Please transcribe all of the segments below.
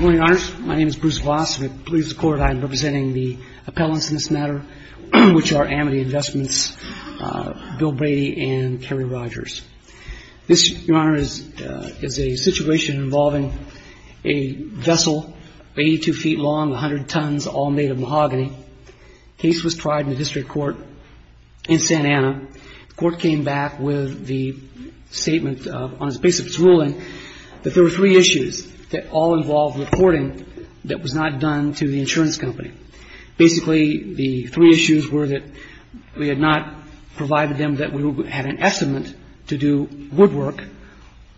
AMITY INVESTMENTS v. BILL BRADY v. KERRY ROGERS The three issues that all involved reporting that was not done to the insurance company, basically, the three issues were that we had not provided them that we would have an estimate to do woodwork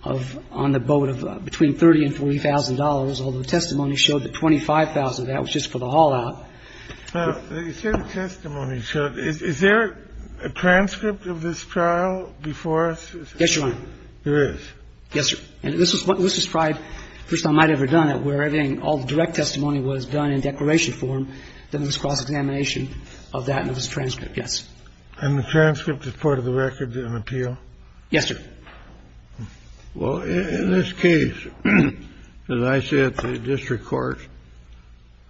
of on the boat of between $30,000 and $40,000, although testimony showed that $25,000 of that was just for the haul-out. And so the question is, is there a transcript of this trial before us? Yes, Your Honor. There is? Yes, sir. And this is what was described, first time I'd ever done it, where everything all the direct testimony was done in declaration form, then there was cross-examination of that and it was transcript, yes. And the transcript is part of the records in appeal? Yes, sir. Well, in this case, as I said, the district court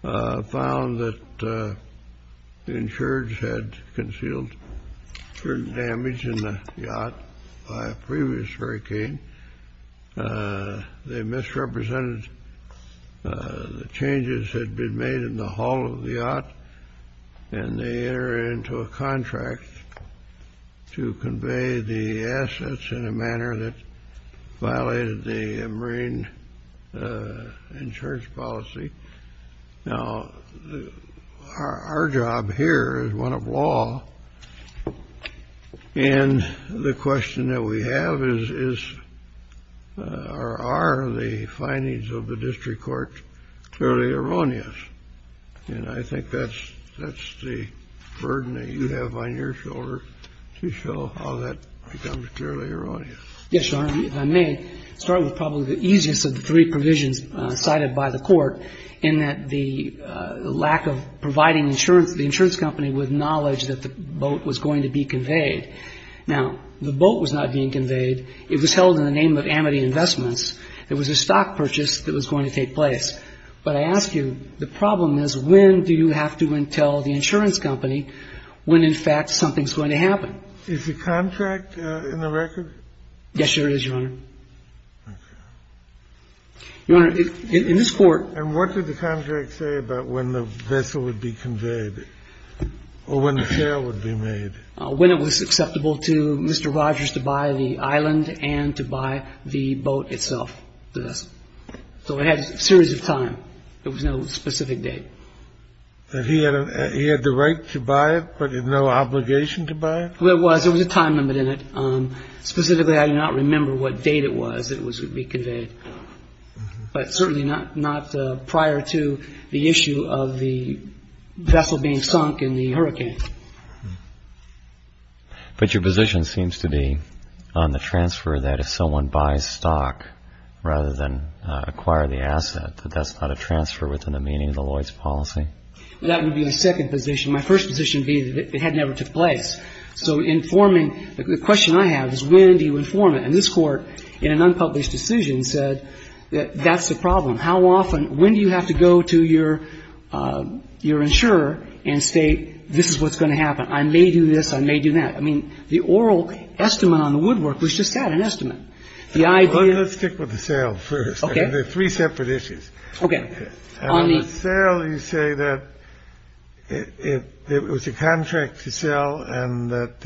found that the insureds had concealed certain damage in the yacht by a previous hurricane. They misrepresented the changes that had been made in the haul of the yacht, and they entered into a contract to convey the assets in a manner that violated the marine insurance policy. Now, our job here is one of law, and the question that we have is, are the findings of the district court clearly erroneous? And I think that's the burden that you have on your shoulders, to show how that becomes clearly erroneous. Yes, Your Honor. If I may start with probably the easiest of the three provisions cited by the court in that the lack of providing insurance, the insurance company with knowledge that the boat was going to be conveyed. Now, the boat was not being conveyed. It was held in the name of Amity Investments. It was a stock purchase that was going to take place. But I ask you, the problem is, when do you have to tell the insurance company when, in fact, something's going to happen? Is the contract in the record? Yes, Your Honor, it is, Your Honor. Your Honor, in this court. And what did the contract say about when the vessel would be conveyed, or when the sale would be made? When it was acceptable to Mr. Rogers to buy the island and to buy the boat itself. So it had a series of time. There was no specific date. He had the right to buy it, but no obligation to buy it? Well, it was. There was a time limit in it. Specifically, I do not remember what date it was that it would be conveyed. But certainly not prior to the issue of the vessel being sunk in the hurricane. But your position seems to be on the transfer that if someone buys stock rather than acquire the asset, that that's not a transfer within the meaning of the Lloyds policy? That would be my second position. My first position would be that it had never took place. So informing, the question I have is when do you inform it? And this Court, in an unpublished decision, said that that's the problem. How often, when do you have to go to your insurer and say, this is what's going to happen? I may do this. I may do that. I mean, the oral estimate on the woodwork was just that, an estimate. Let's stick with the sale first. There are three separate issues. Okay. On the sale, you say that it was a contract to sell and that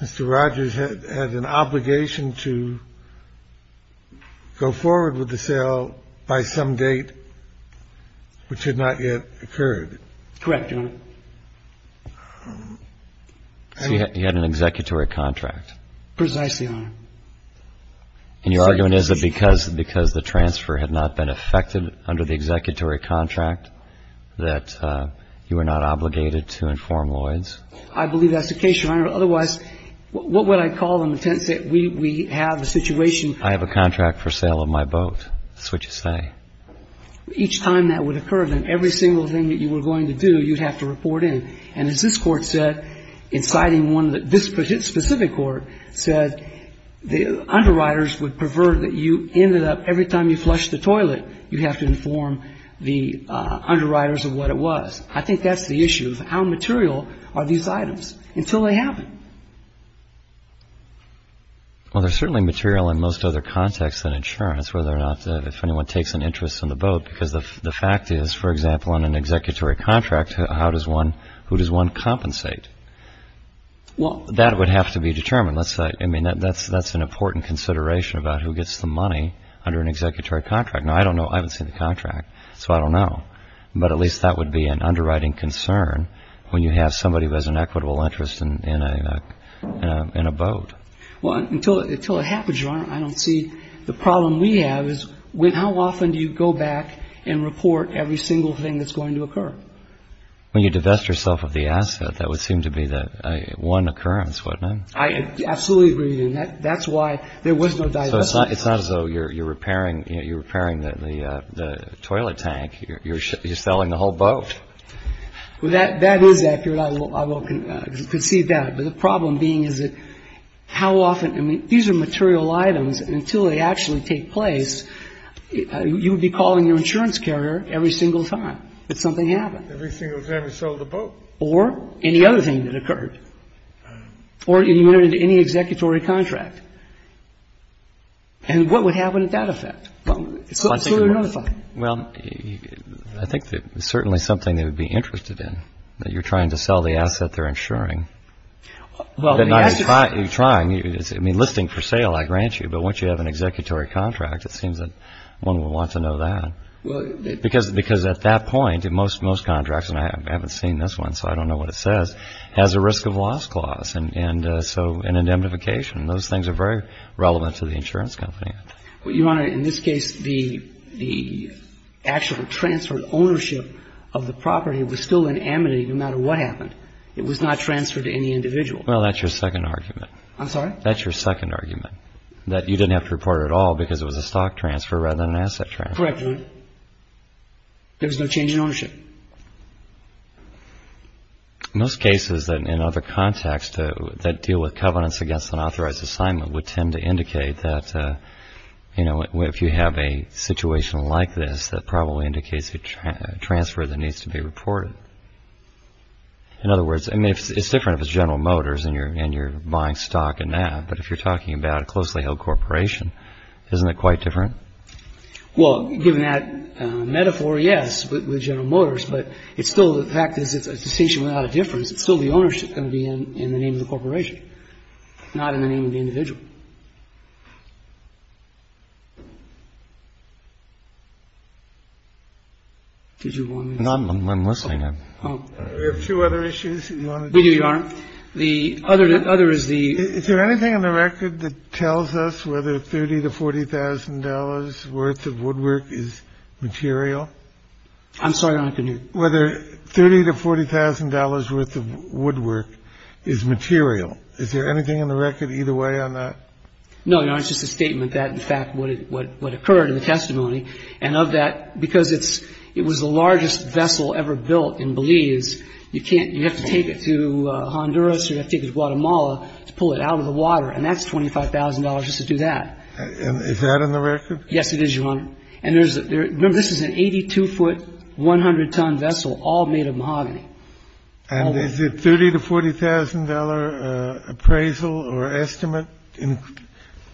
Mr. Rogers had an obligation to go forward with the sale by some date which had not yet occurred. Correct, Your Honor. So you had an executory contract? Precisely, Your Honor. And your argument is that because the transfer had not been effected under the executory contract that you were not obligated to inform Lloyds? I believe that's the case, Your Honor. Otherwise, what would I call them in the sense that we have the situation? I have a contract for sale of my boat. That's what you say. Each time that would occur, then every single thing that you were going to do, you'd have to report in. And as this Court said, inciting one that this specific Court said, the underwriters would prefer that you ended up every time you flushed the toilet, you'd have to inform the underwriters of what it was. I think that's the issue. How material are these items? Until they happen. Well, they're certainly material in most other contexts than insurance, whether or not if anyone takes an interest in the boat, because the fact is, for example, on an executory contract, who does one compensate? Well, that would have to be determined. I mean, that's an important consideration about who gets the money under an executory contract. Now, I don't know. I haven't seen the contract, so I don't know. But at least that would be an underwriting concern when you have somebody who has an equitable interest in a boat. Well, until it happens, Your Honor, I don't see the problem we have is how often do you go back and report every single thing that's going to occur? When you divest yourself of the asset, that would seem to be the one occurrence, wouldn't it? I absolutely agree, and that's why there was no divestment. So it's not as though you're repairing the toilet tank. You're selling the whole boat. Well, that is accurate. I will concede that. But the problem being is that how often? I mean, these are material items, and until they actually take place, you would be calling your insurance carrier every single time that something happened. Every single time you sold the boat. Or any other thing that occurred. Or you went into any executory contract. And what would happen at that effect? Well, it's a whole other thing. Well, I think that it's certainly something they would be interested in, that you're trying to sell the asset they're insuring. You're trying. I mean, listing for sale, I grant you. But once you have an executory contract, it seems that one would want to know that. Because at that point, most contracts, and I haven't seen this one, so I don't know what it says, has a risk of loss clause, and so an indemnification. Those things are very relevant to the insurance company. Your Honor, in this case, the actual transferred ownership of the property was still in amity no matter what happened. It was not transferred to any individual. Well, that's your second argument. I'm sorry? That's your second argument. That you didn't have to report it at all because it was a stock transfer rather than an asset transfer. Correct, Your Honor. There was no change in ownership. Most cases in other contexts that deal with covenants against an authorized assignment would tend to indicate that, you know, if you have a situation like this, that probably indicates a transfer that needs to be reported. In other words, I mean, it's different if it's General Motors and you're buying stock in that. But if you're talking about a closely held corporation, isn't it quite different? Well, given that metaphor, yes, with General Motors, but it's still the fact that it's a decision without a difference. It's still the ownership going to be in the name of the corporation, not in the name of the individual. Did you want me to say anything? No, I'm listening. There are a few other issues you want to do. We do, Your Honor. It tells us whether 30 to $40,000 worth of woodwork is material. I'm sorry, Your Honor. Whether 30 to $40,000 worth of woodwork is material. Is there anything in the record either way on that? No, Your Honor. It's just a statement that, in fact, what occurred in the testimony. And of that, because it was the largest vessel ever built in Belize, you have to take it to Honduras, you have to take it to Guatemala to pull it out of the water. And that's $25,000 just to do that. Is that in the record? Yes, it is, Your Honor. And remember, this is an 82-foot, 100-ton vessel all made of mahogany. And is it 30 to $40,000 appraisal or estimate?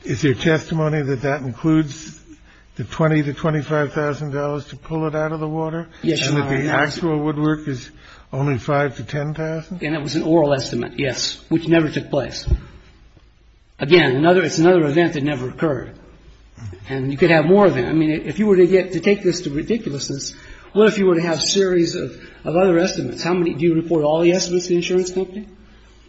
Is there testimony that that includes the 20 to $25,000 to pull it out of the water? Yes, Your Honor. And that the actual woodwork is only 5 to 10,000? And it was an oral estimate, yes, which never took place. Again, another — it's another event that never occurred. And you could have more of them. I mean, if you were to get — to take this to ridiculousness, what if you were to have a series of other estimates? How many — do you report all the estimates to the insurance company?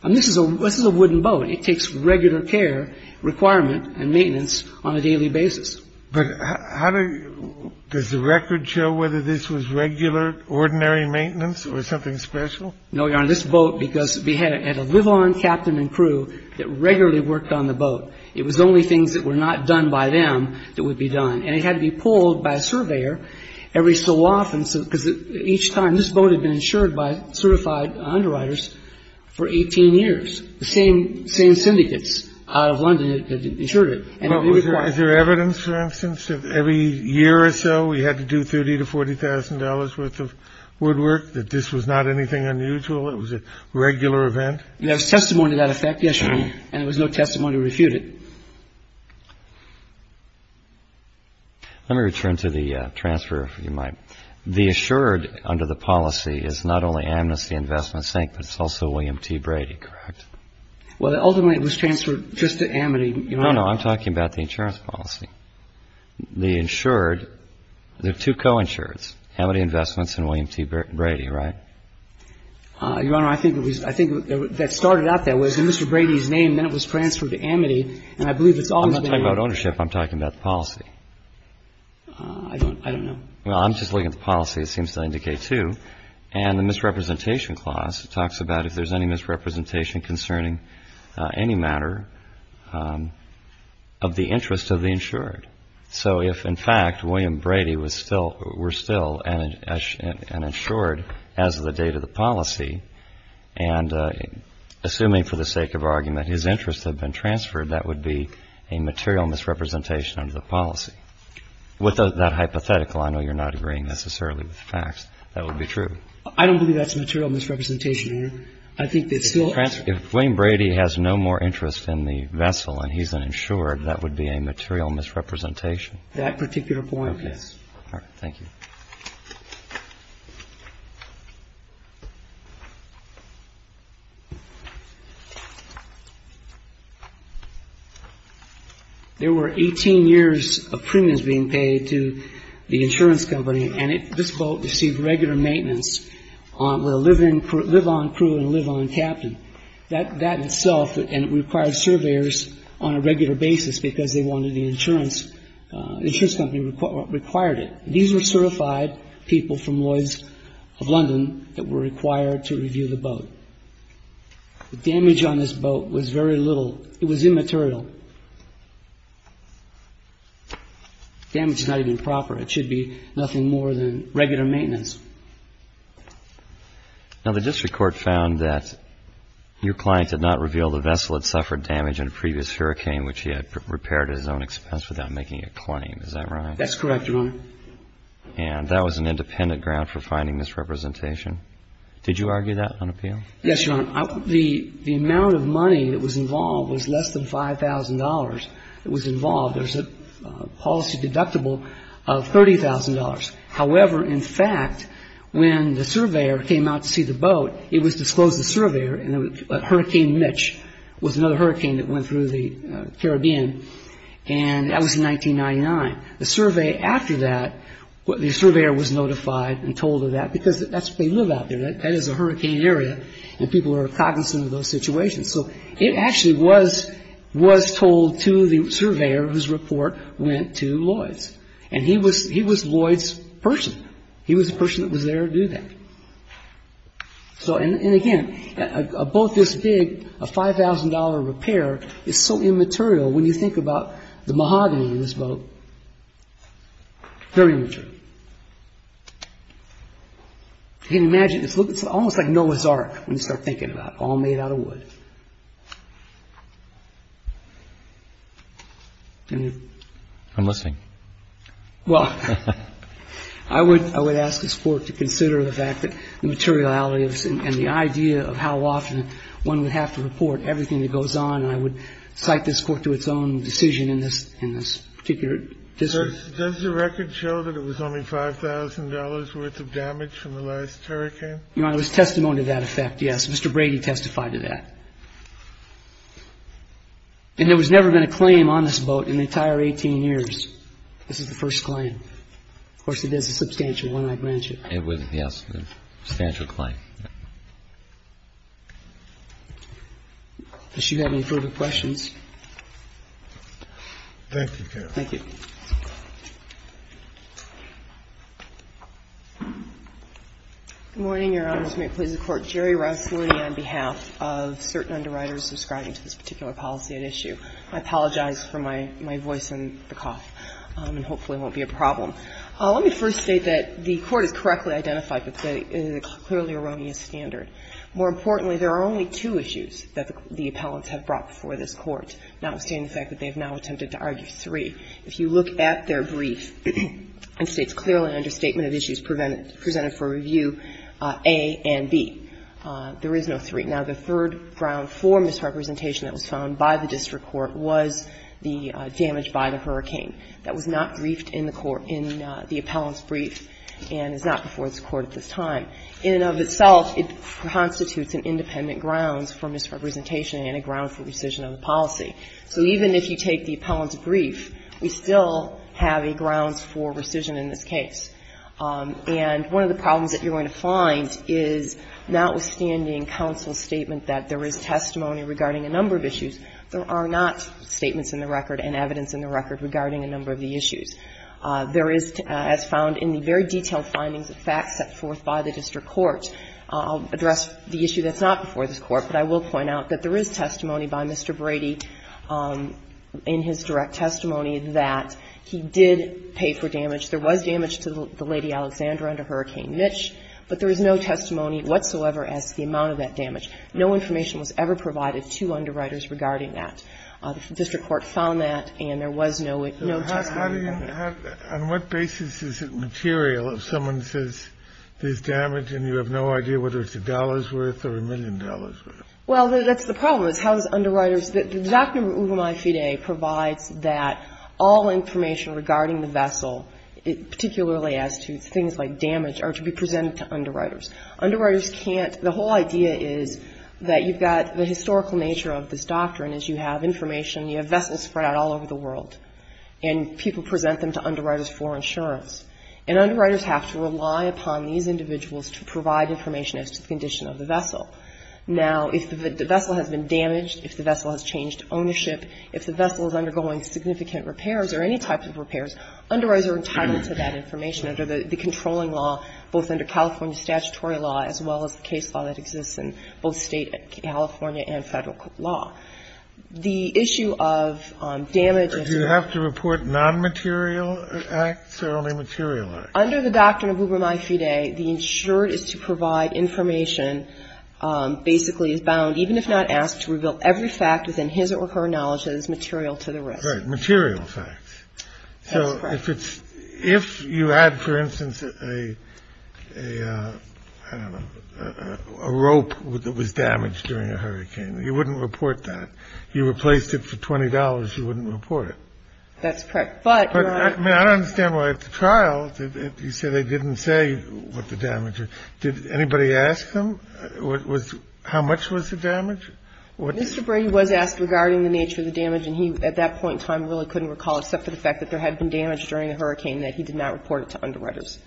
I mean, this is a — this is a wooden boat. It takes regular care, requirement, and maintenance on a daily basis. But how do — does the record show whether this was regular, ordinary maintenance or something special? No, Your Honor. This boat, because we had a live-on captain and crew that regularly worked on the boat, it was the only things that were not done by them that would be done. And it had to be pulled by a surveyor every so often, because each time — this boat had been insured by certified underwriters for 18 years. The same syndicates out of London had insured it. And it would be required. Is there evidence, for instance, that every year or so we had to do 30 to $40,000 worth of woodwork, that this was not anything unusual, it was a regular event? There was testimony to that effect yesterday, and there was no testimony to refute it. Let me return to the transfer, if you might. The insured under the policy is not only Amnesty Investment, but it's also William T. Brady, correct? Well, ultimately, it was transferred just to Amity, Your Honor. No, no. I'm talking about the insurance policy. The insured — there are two co-insureds, Amity Investments and William T. Brady, right? Your Honor, I think it was — I think that started out that way. It was in Mr. Brady's name, then it was transferred to Amity, and I believe it's always been — I'm not talking about ownership. I'm talking about the policy. I don't know. Well, I'm just looking at the policy, it seems to indicate two. And the misrepresentation clause talks about if there's any misrepresentation concerning any matter of the interest of the insured. So if, in fact, William Brady was still — were still an insured as of the date of the policy, and assuming, for the sake of argument, his interests had been transferred, that would be a material misrepresentation under the policy. With that hypothetical, I know you're not agreeing necessarily with the facts. That would be true. I think that still — If William Brady has no more interest in the vessel and he's an insured, that would be a material misrepresentation. That particular point, yes. All right. Thank you. There were 18 years of premiums being paid to the insurance company, and this boat received regular maintenance with a live-on crew and a live-on captain. That itself — and it required surveyors on a regular basis because they wanted the insurance. The insurance company required it. These were certified people from Lloyds of London that were required to review the boat. The damage on this boat was very little. It was immaterial. The damage is not even proper. It should be nothing more than regular maintenance. Now, the district court found that your client did not reveal the vessel had suffered damage in a previous hurricane, which he had repaired at his own expense without making a claim. Is that right? That's correct, Your Honor. And that was an independent ground for finding misrepresentation. Did you argue that on appeal? Yes, Your Honor. The amount of money that was involved was less than $5,000 that was involved. There's a policy deductible of $30,000. However, in fact, when the surveyor came out to see the boat, it was disclosed to the surveyor. Hurricane Mitch was another hurricane that went through the Caribbean, and that was in 1999. The surveyor was notified and told of that because that's where they live out there. That is a hurricane area, and people are cognizant of those situations. So it actually was told to the surveyor whose report went to Lloyd's, and he was Lloyd's person. He was the person that was there to do that. And again, a boat this big, a $5,000 repair, is so immaterial when you think about the mahogany in this boat. Very immaterial. You can imagine, it's almost like Noah's Ark when you start thinking about it, all made out of wood. I'm listening. Well, I would ask this Court to consider the fact that the materiality and the idea of how often one would have to report everything that goes on, and I would cite this Court to its own decision in this particular district. Does the record show that it was only $5,000 worth of damage from the last hurricane? Your Honor, it was testimony to that effect, yes. Mr. Brady testified to that. And there has never been a claim on this boat in the entire 18 years. This is the first claim. Of course, it is a substantial one, I grant you. It was, yes, a substantial claim. Does she have any further questions? Thank you, counsel. Thank you. Good morning, Your Honors. May it please the Court. Geri Roussolini on behalf of certain underwriters subscribing to this particular policy at issue. I apologize for my voice and the cough, and hopefully it won't be a problem. Let me first state that the Court has correctly identified that it is a clearly erroneous standard. More importantly, there are only two issues that the appellants have brought before this Court, notwithstanding the fact that they have now attempted to argue three. If you look at their brief, it states clearly understatement of issues presented for review A and B. There is no three. Now, the third ground for misrepresentation that was found by the district court was the damage by the hurricane. That was not briefed in the court in the appellant's brief and is not before this Court at this time. In and of itself, it constitutes an independent grounds for misrepresentation and a grounds for rescission of the policy. So even if you take the appellant's brief, we still have a grounds for rescission in this case. And one of the problems that you're going to find is, notwithstanding counsel's statement that there is testimony regarding a number of issues, there are not statements in the record and evidence in the record regarding a number of the issues. There is, as found in the very detailed findings of facts set forth by the district court, I'll address the issue that's not before this Court, but I will point out that there is testimony by Mr. Brady in his direct testimony that he did pay for damage. There was damage to the Lady Alexandra under Hurricane Mitch, but there is no testimony whatsoever as to the amount of that damage. No information was ever provided to underwriters regarding that. The district court found that, and there was no testimony of that. Kennedy, on what basis is it material if someone says there's damage and you have no idea whether it's a dollar's worth or a million dollars' worth? Well, that's the problem, is how does underwriters – the doctrine of uvumae fide provides that all information regarding the vessel, particularly as to things like damage, are to be presented to underwriters. Underwriters can't – the whole idea is that you've got the historical nature of this doctrine is you have information, you have vessels spread out all over the world, and people present them to underwriters for insurance. And underwriters have to rely upon these individuals to provide information as to the condition of the vessel. Now, if the vessel has been damaged, if the vessel has changed ownership, if the vessel is undergoing significant repairs or any type of repairs, underwriters are entitled to that information under the controlling law, both under California statutory law as well as the case law that exists in both State California and Federal law. The issue of damage – Do you have to report non-material acts or only material acts? Under the doctrine of uvumae fide, the insured is to provide information, basically is bound, even if not asked, to reveal every fact within his or her knowledge that is material to the risk. Right, material facts. That's correct. So if it's – if you had, for instance, a – I don't know, a rope that was damaged during a hurricane, you wouldn't report that. You replaced it for $20, you wouldn't report it. That's correct. But you're not – I mean, I don't understand why at the trial, you said they didn't say what the damage or – did anybody ask them what was – how much was the damage? Mr. Brady was asked regarding the nature of the damage, and he, at that point in time, really couldn't recall, except for the fact that there had been damage during the hurricane, that he did not report it to underwriters.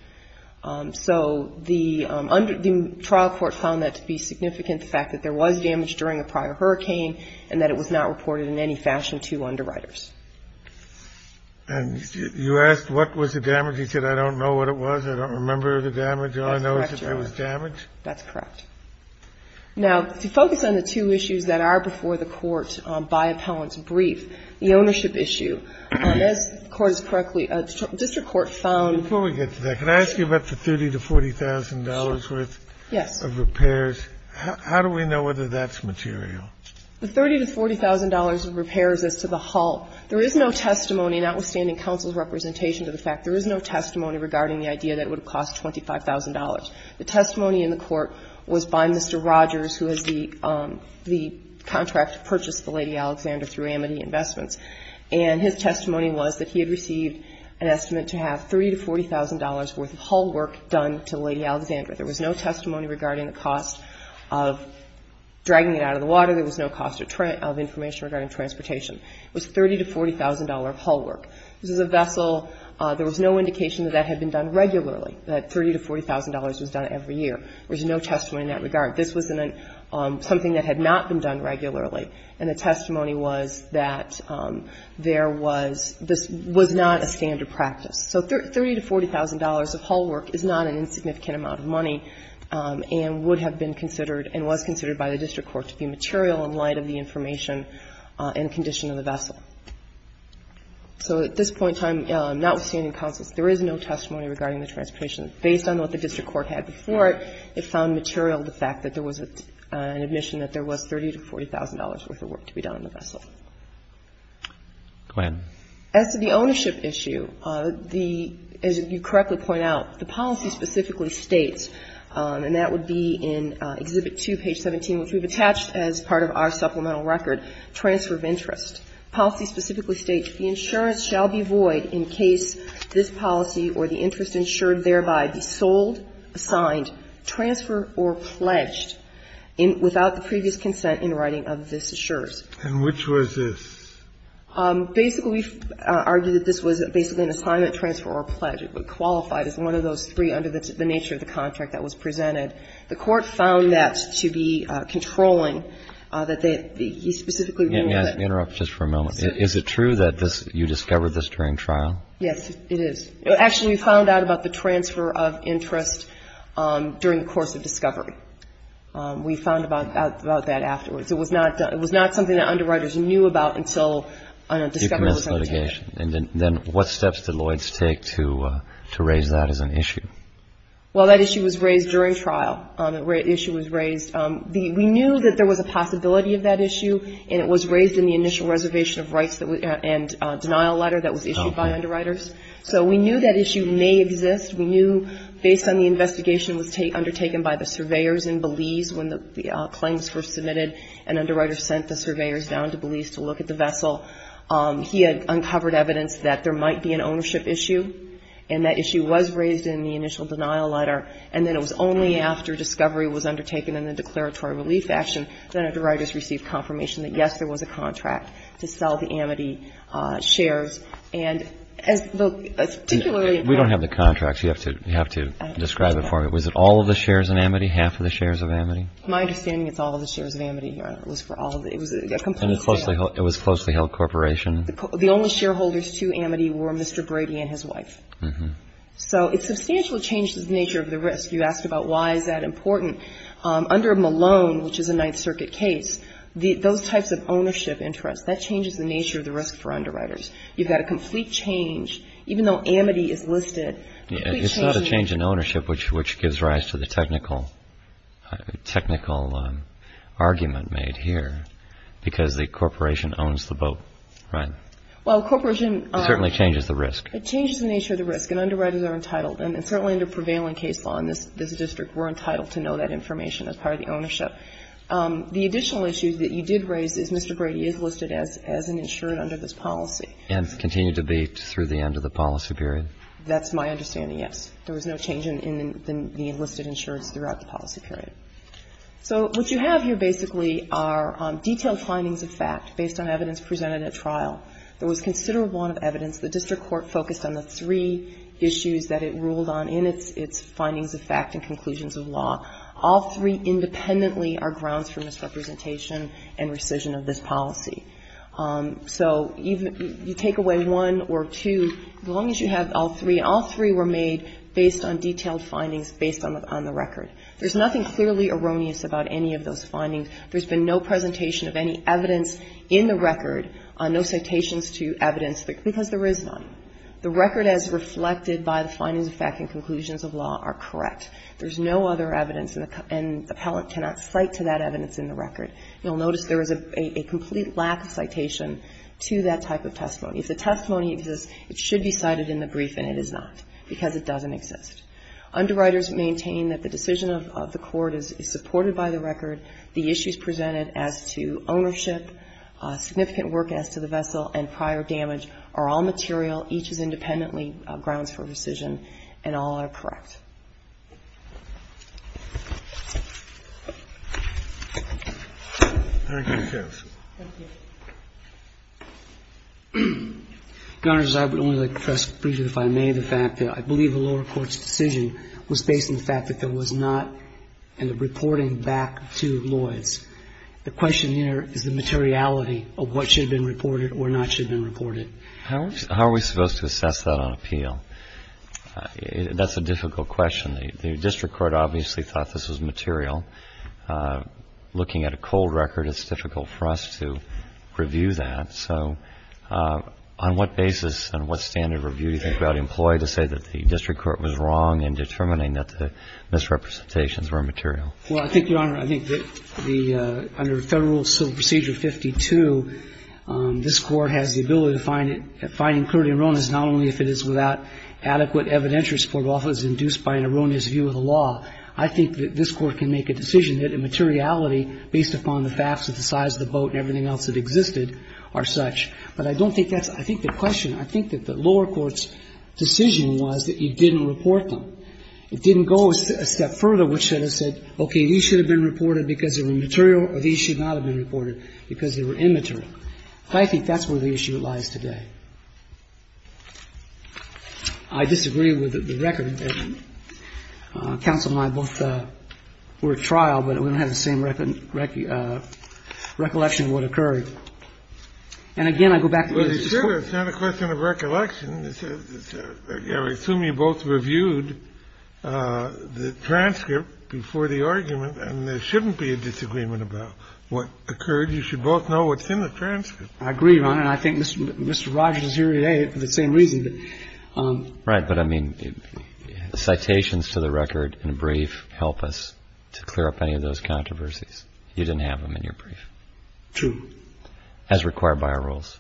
So the trial court found that to be significant, the fact that there was damage during a prior hurricane and that it was not reported in any fashion to underwriters. And you asked what was the damage. He said, I don't know what it was, I don't remember the damage. That's correct, Your Honor. I don't know if it was damage. That's correct. Now, to focus on the two issues that are before the Court by appellant's brief, the ownership issue, as the Court has correctly – district court found – Before we get to that, can I ask you about the $30,000 to $40,000 worth of repairs? Yes. How do we know whether that's material? The $30,000 to $40,000 of repairs is to the whole. There is no testimony, notwithstanding counsel's representation to the fact, there is no testimony regarding the idea that it would have cost $25,000. The testimony in the Court was by Mr. Rogers, who has the contract to purchase the Lady Alexander through Amity Investments. And his testimony was that he had received an estimate to have $30,000 to $40,000 worth of haul work done to Lady Alexander. There was no testimony regarding the cost of dragging it out of the water. There was no cost of information regarding transportation. It was $30,000 to $40,000 of haul work. This is a vessel. There was no indication that that had been done regularly, that $30,000 to $40,000 was done every year. There was no testimony in that regard. This was something that had not been done regularly. And the testimony was that there was this was not a standard practice. So $30,000 to $40,000 of haul work is not an insignificant amount of money and would have been considered and was considered by the district court to be material in light of the information and condition of the vessel. So at this point in time, notwithstanding counsel's, there is no testimony regarding the transportation. Based on what the district court had before it, it found material the fact that there was an admission that there was $30,000 to $40,000 worth of work to be done on the vessel. Go ahead. As to the ownership issue, the, as you correctly point out, the policy specifically states, and that would be in Exhibit 2, page 17, which we've attached as part of our supplemental record, transfer of interest. Policy specifically states the insurance shall be void in case this policy or the interest is insured, thereby be sold, assigned, transfer, or pledged without the previous consent in writing of this insurance. And which was this? Basically, we've argued that this was basically an assignment, transfer, or pledge. It would qualify as one of those three under the nature of the contract that was presented. The court found that to be controlling, that they, he specifically ruled that. Let me interrupt just for a moment. Is it true that this, you discovered this during trial? Yes, it is. Actually, we found out about the transfer of interest during the course of discovery. We found about that afterwards. It was not something that underwriters knew about until discovery was undertaken. And then what steps did Lloyds take to raise that as an issue? Well, that issue was raised during trial. The issue was raised. We knew that there was a possibility of that issue, and it was raised in the initial reservation of rights and denial letter that was issued by underwriters. So we knew that issue may exist. We knew, based on the investigation undertaken by the surveyors in Belize when the claims were submitted and underwriters sent the surveyors down to Belize to look at the vessel, he had uncovered evidence that there might be an ownership issue. And that issue was raised in the initial denial letter. And then it was only after discovery was undertaken in the declaratory relief action that underwriters received confirmation that, yes, there was a contract to sell the Amity shares. We don't have the contracts. You have to describe it for me. Was it all of the shares in Amity, half of the shares of Amity? My understanding, it's all of the shares of Amity, Your Honor. It was a complete sale. And it was closely held corporation? The only shareholders to Amity were Mr. Brady and his wife. So it substantially changed the nature of the risk. You asked about why is that important. Under Malone, which is a Ninth Circuit case, those types of ownership interests, that changes the nature of the risk for underwriters. You've got a complete change, even though Amity is listed. It's not a change in ownership, which gives rise to the technical argument made here, because the corporation owns the boat, right? Well, corporation. It certainly changes the risk. It changes the nature of the risk, and underwriters are entitled, and certainly under prevailing case law in this district, we're entitled to know that information as part of the ownership. But the additional issue that you did raise is Mr. Brady is listed as an insured under this policy. And continued to be through the end of the policy period? That's my understanding, yes. There was no change in the enlisted insureds throughout the policy period. So what you have here basically are detailed findings of fact based on evidence presented at trial. There was considerable amount of evidence. The district court focused on the three issues that it ruled on in its findings of fact and conclusions of law. All three independently are grounds for misrepresentation and rescission of this policy. So you take away one or two, as long as you have all three. All three were made based on detailed findings based on the record. There's nothing clearly erroneous about any of those findings. There's been no presentation of any evidence in the record, no citations to evidence, because there is none. The record as reflected by the findings of fact and conclusions of law are correct. There's no other evidence, and the appellant cannot cite to that evidence in the record. You'll notice there is a complete lack of citation to that type of testimony. If the testimony exists, it should be cited in the brief, and it is not, because it doesn't exist. Underwriters maintain that the decision of the court is supported by the record. The issues presented as to ownership, significant work as to the vessel, and prior damage are all material, each is independently grounds for rescission, and all are correct. Thank you. Thank you. Your Honors, I would only like to press brief if I may. The fact that I believe the lower court's decision was based on the fact that there was not any reporting back to Lloyds. The question here is the materiality of what should have been reported or not should have been reported. How are we supposed to assess that on appeal? That's a difficult question. The district court obviously thought this was material. Looking at a cold record, it's difficult for us to review that. So on what basis and what standard review do you think about employee to say that the district court was wrong in determining that the misrepresentations were material? Well, I think, Your Honor, I think that the under Federal Civil Procedure 52, this adequate evidentiary support offer is induced by an erroneous view of the law. I think that this Court can make a decision that the materiality, based upon the facts of the size of the boat and everything else that existed, are such. But I don't think that's the question. I think that the lower court's decision was that you didn't report them. It didn't go a step further, which should have said, okay, these should have been reported because they were material or these should not have been reported because they were immaterial. I think that's where the issue lies today. I disagree with the record. Counsel and I both were at trial, but we don't have the same recollection of what occurred. And again, I go back to the district court. Well, it's not a question of recollection. I assume you both reviewed the transcript before the argument, and there shouldn't be a disagreement about what occurred. I agree, Your Honor. And I think Mr. Rogers is here today for the same reason. Right. But, I mean, the citations to the record in brief help us to clear up any of those controversies. You didn't have them in your brief. True. As required by our rules.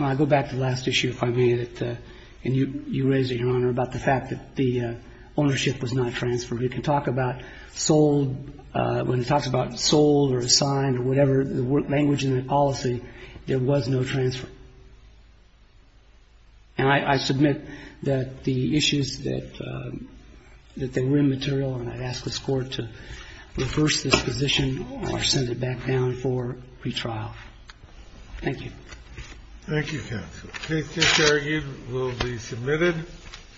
I go back to the last issue, if I may, that you raised, Your Honor, about the fact that the ownership was not transferred. You can talk about sold, when it talks about sold or assigned or whatever, the language in the policy, there was no transfer. And I submit that the issues that they were immaterial, and I'd ask this Court to reverse this position or send it back down for pretrial. Thank you. Thank you, counsel. Case disargued will be submitted.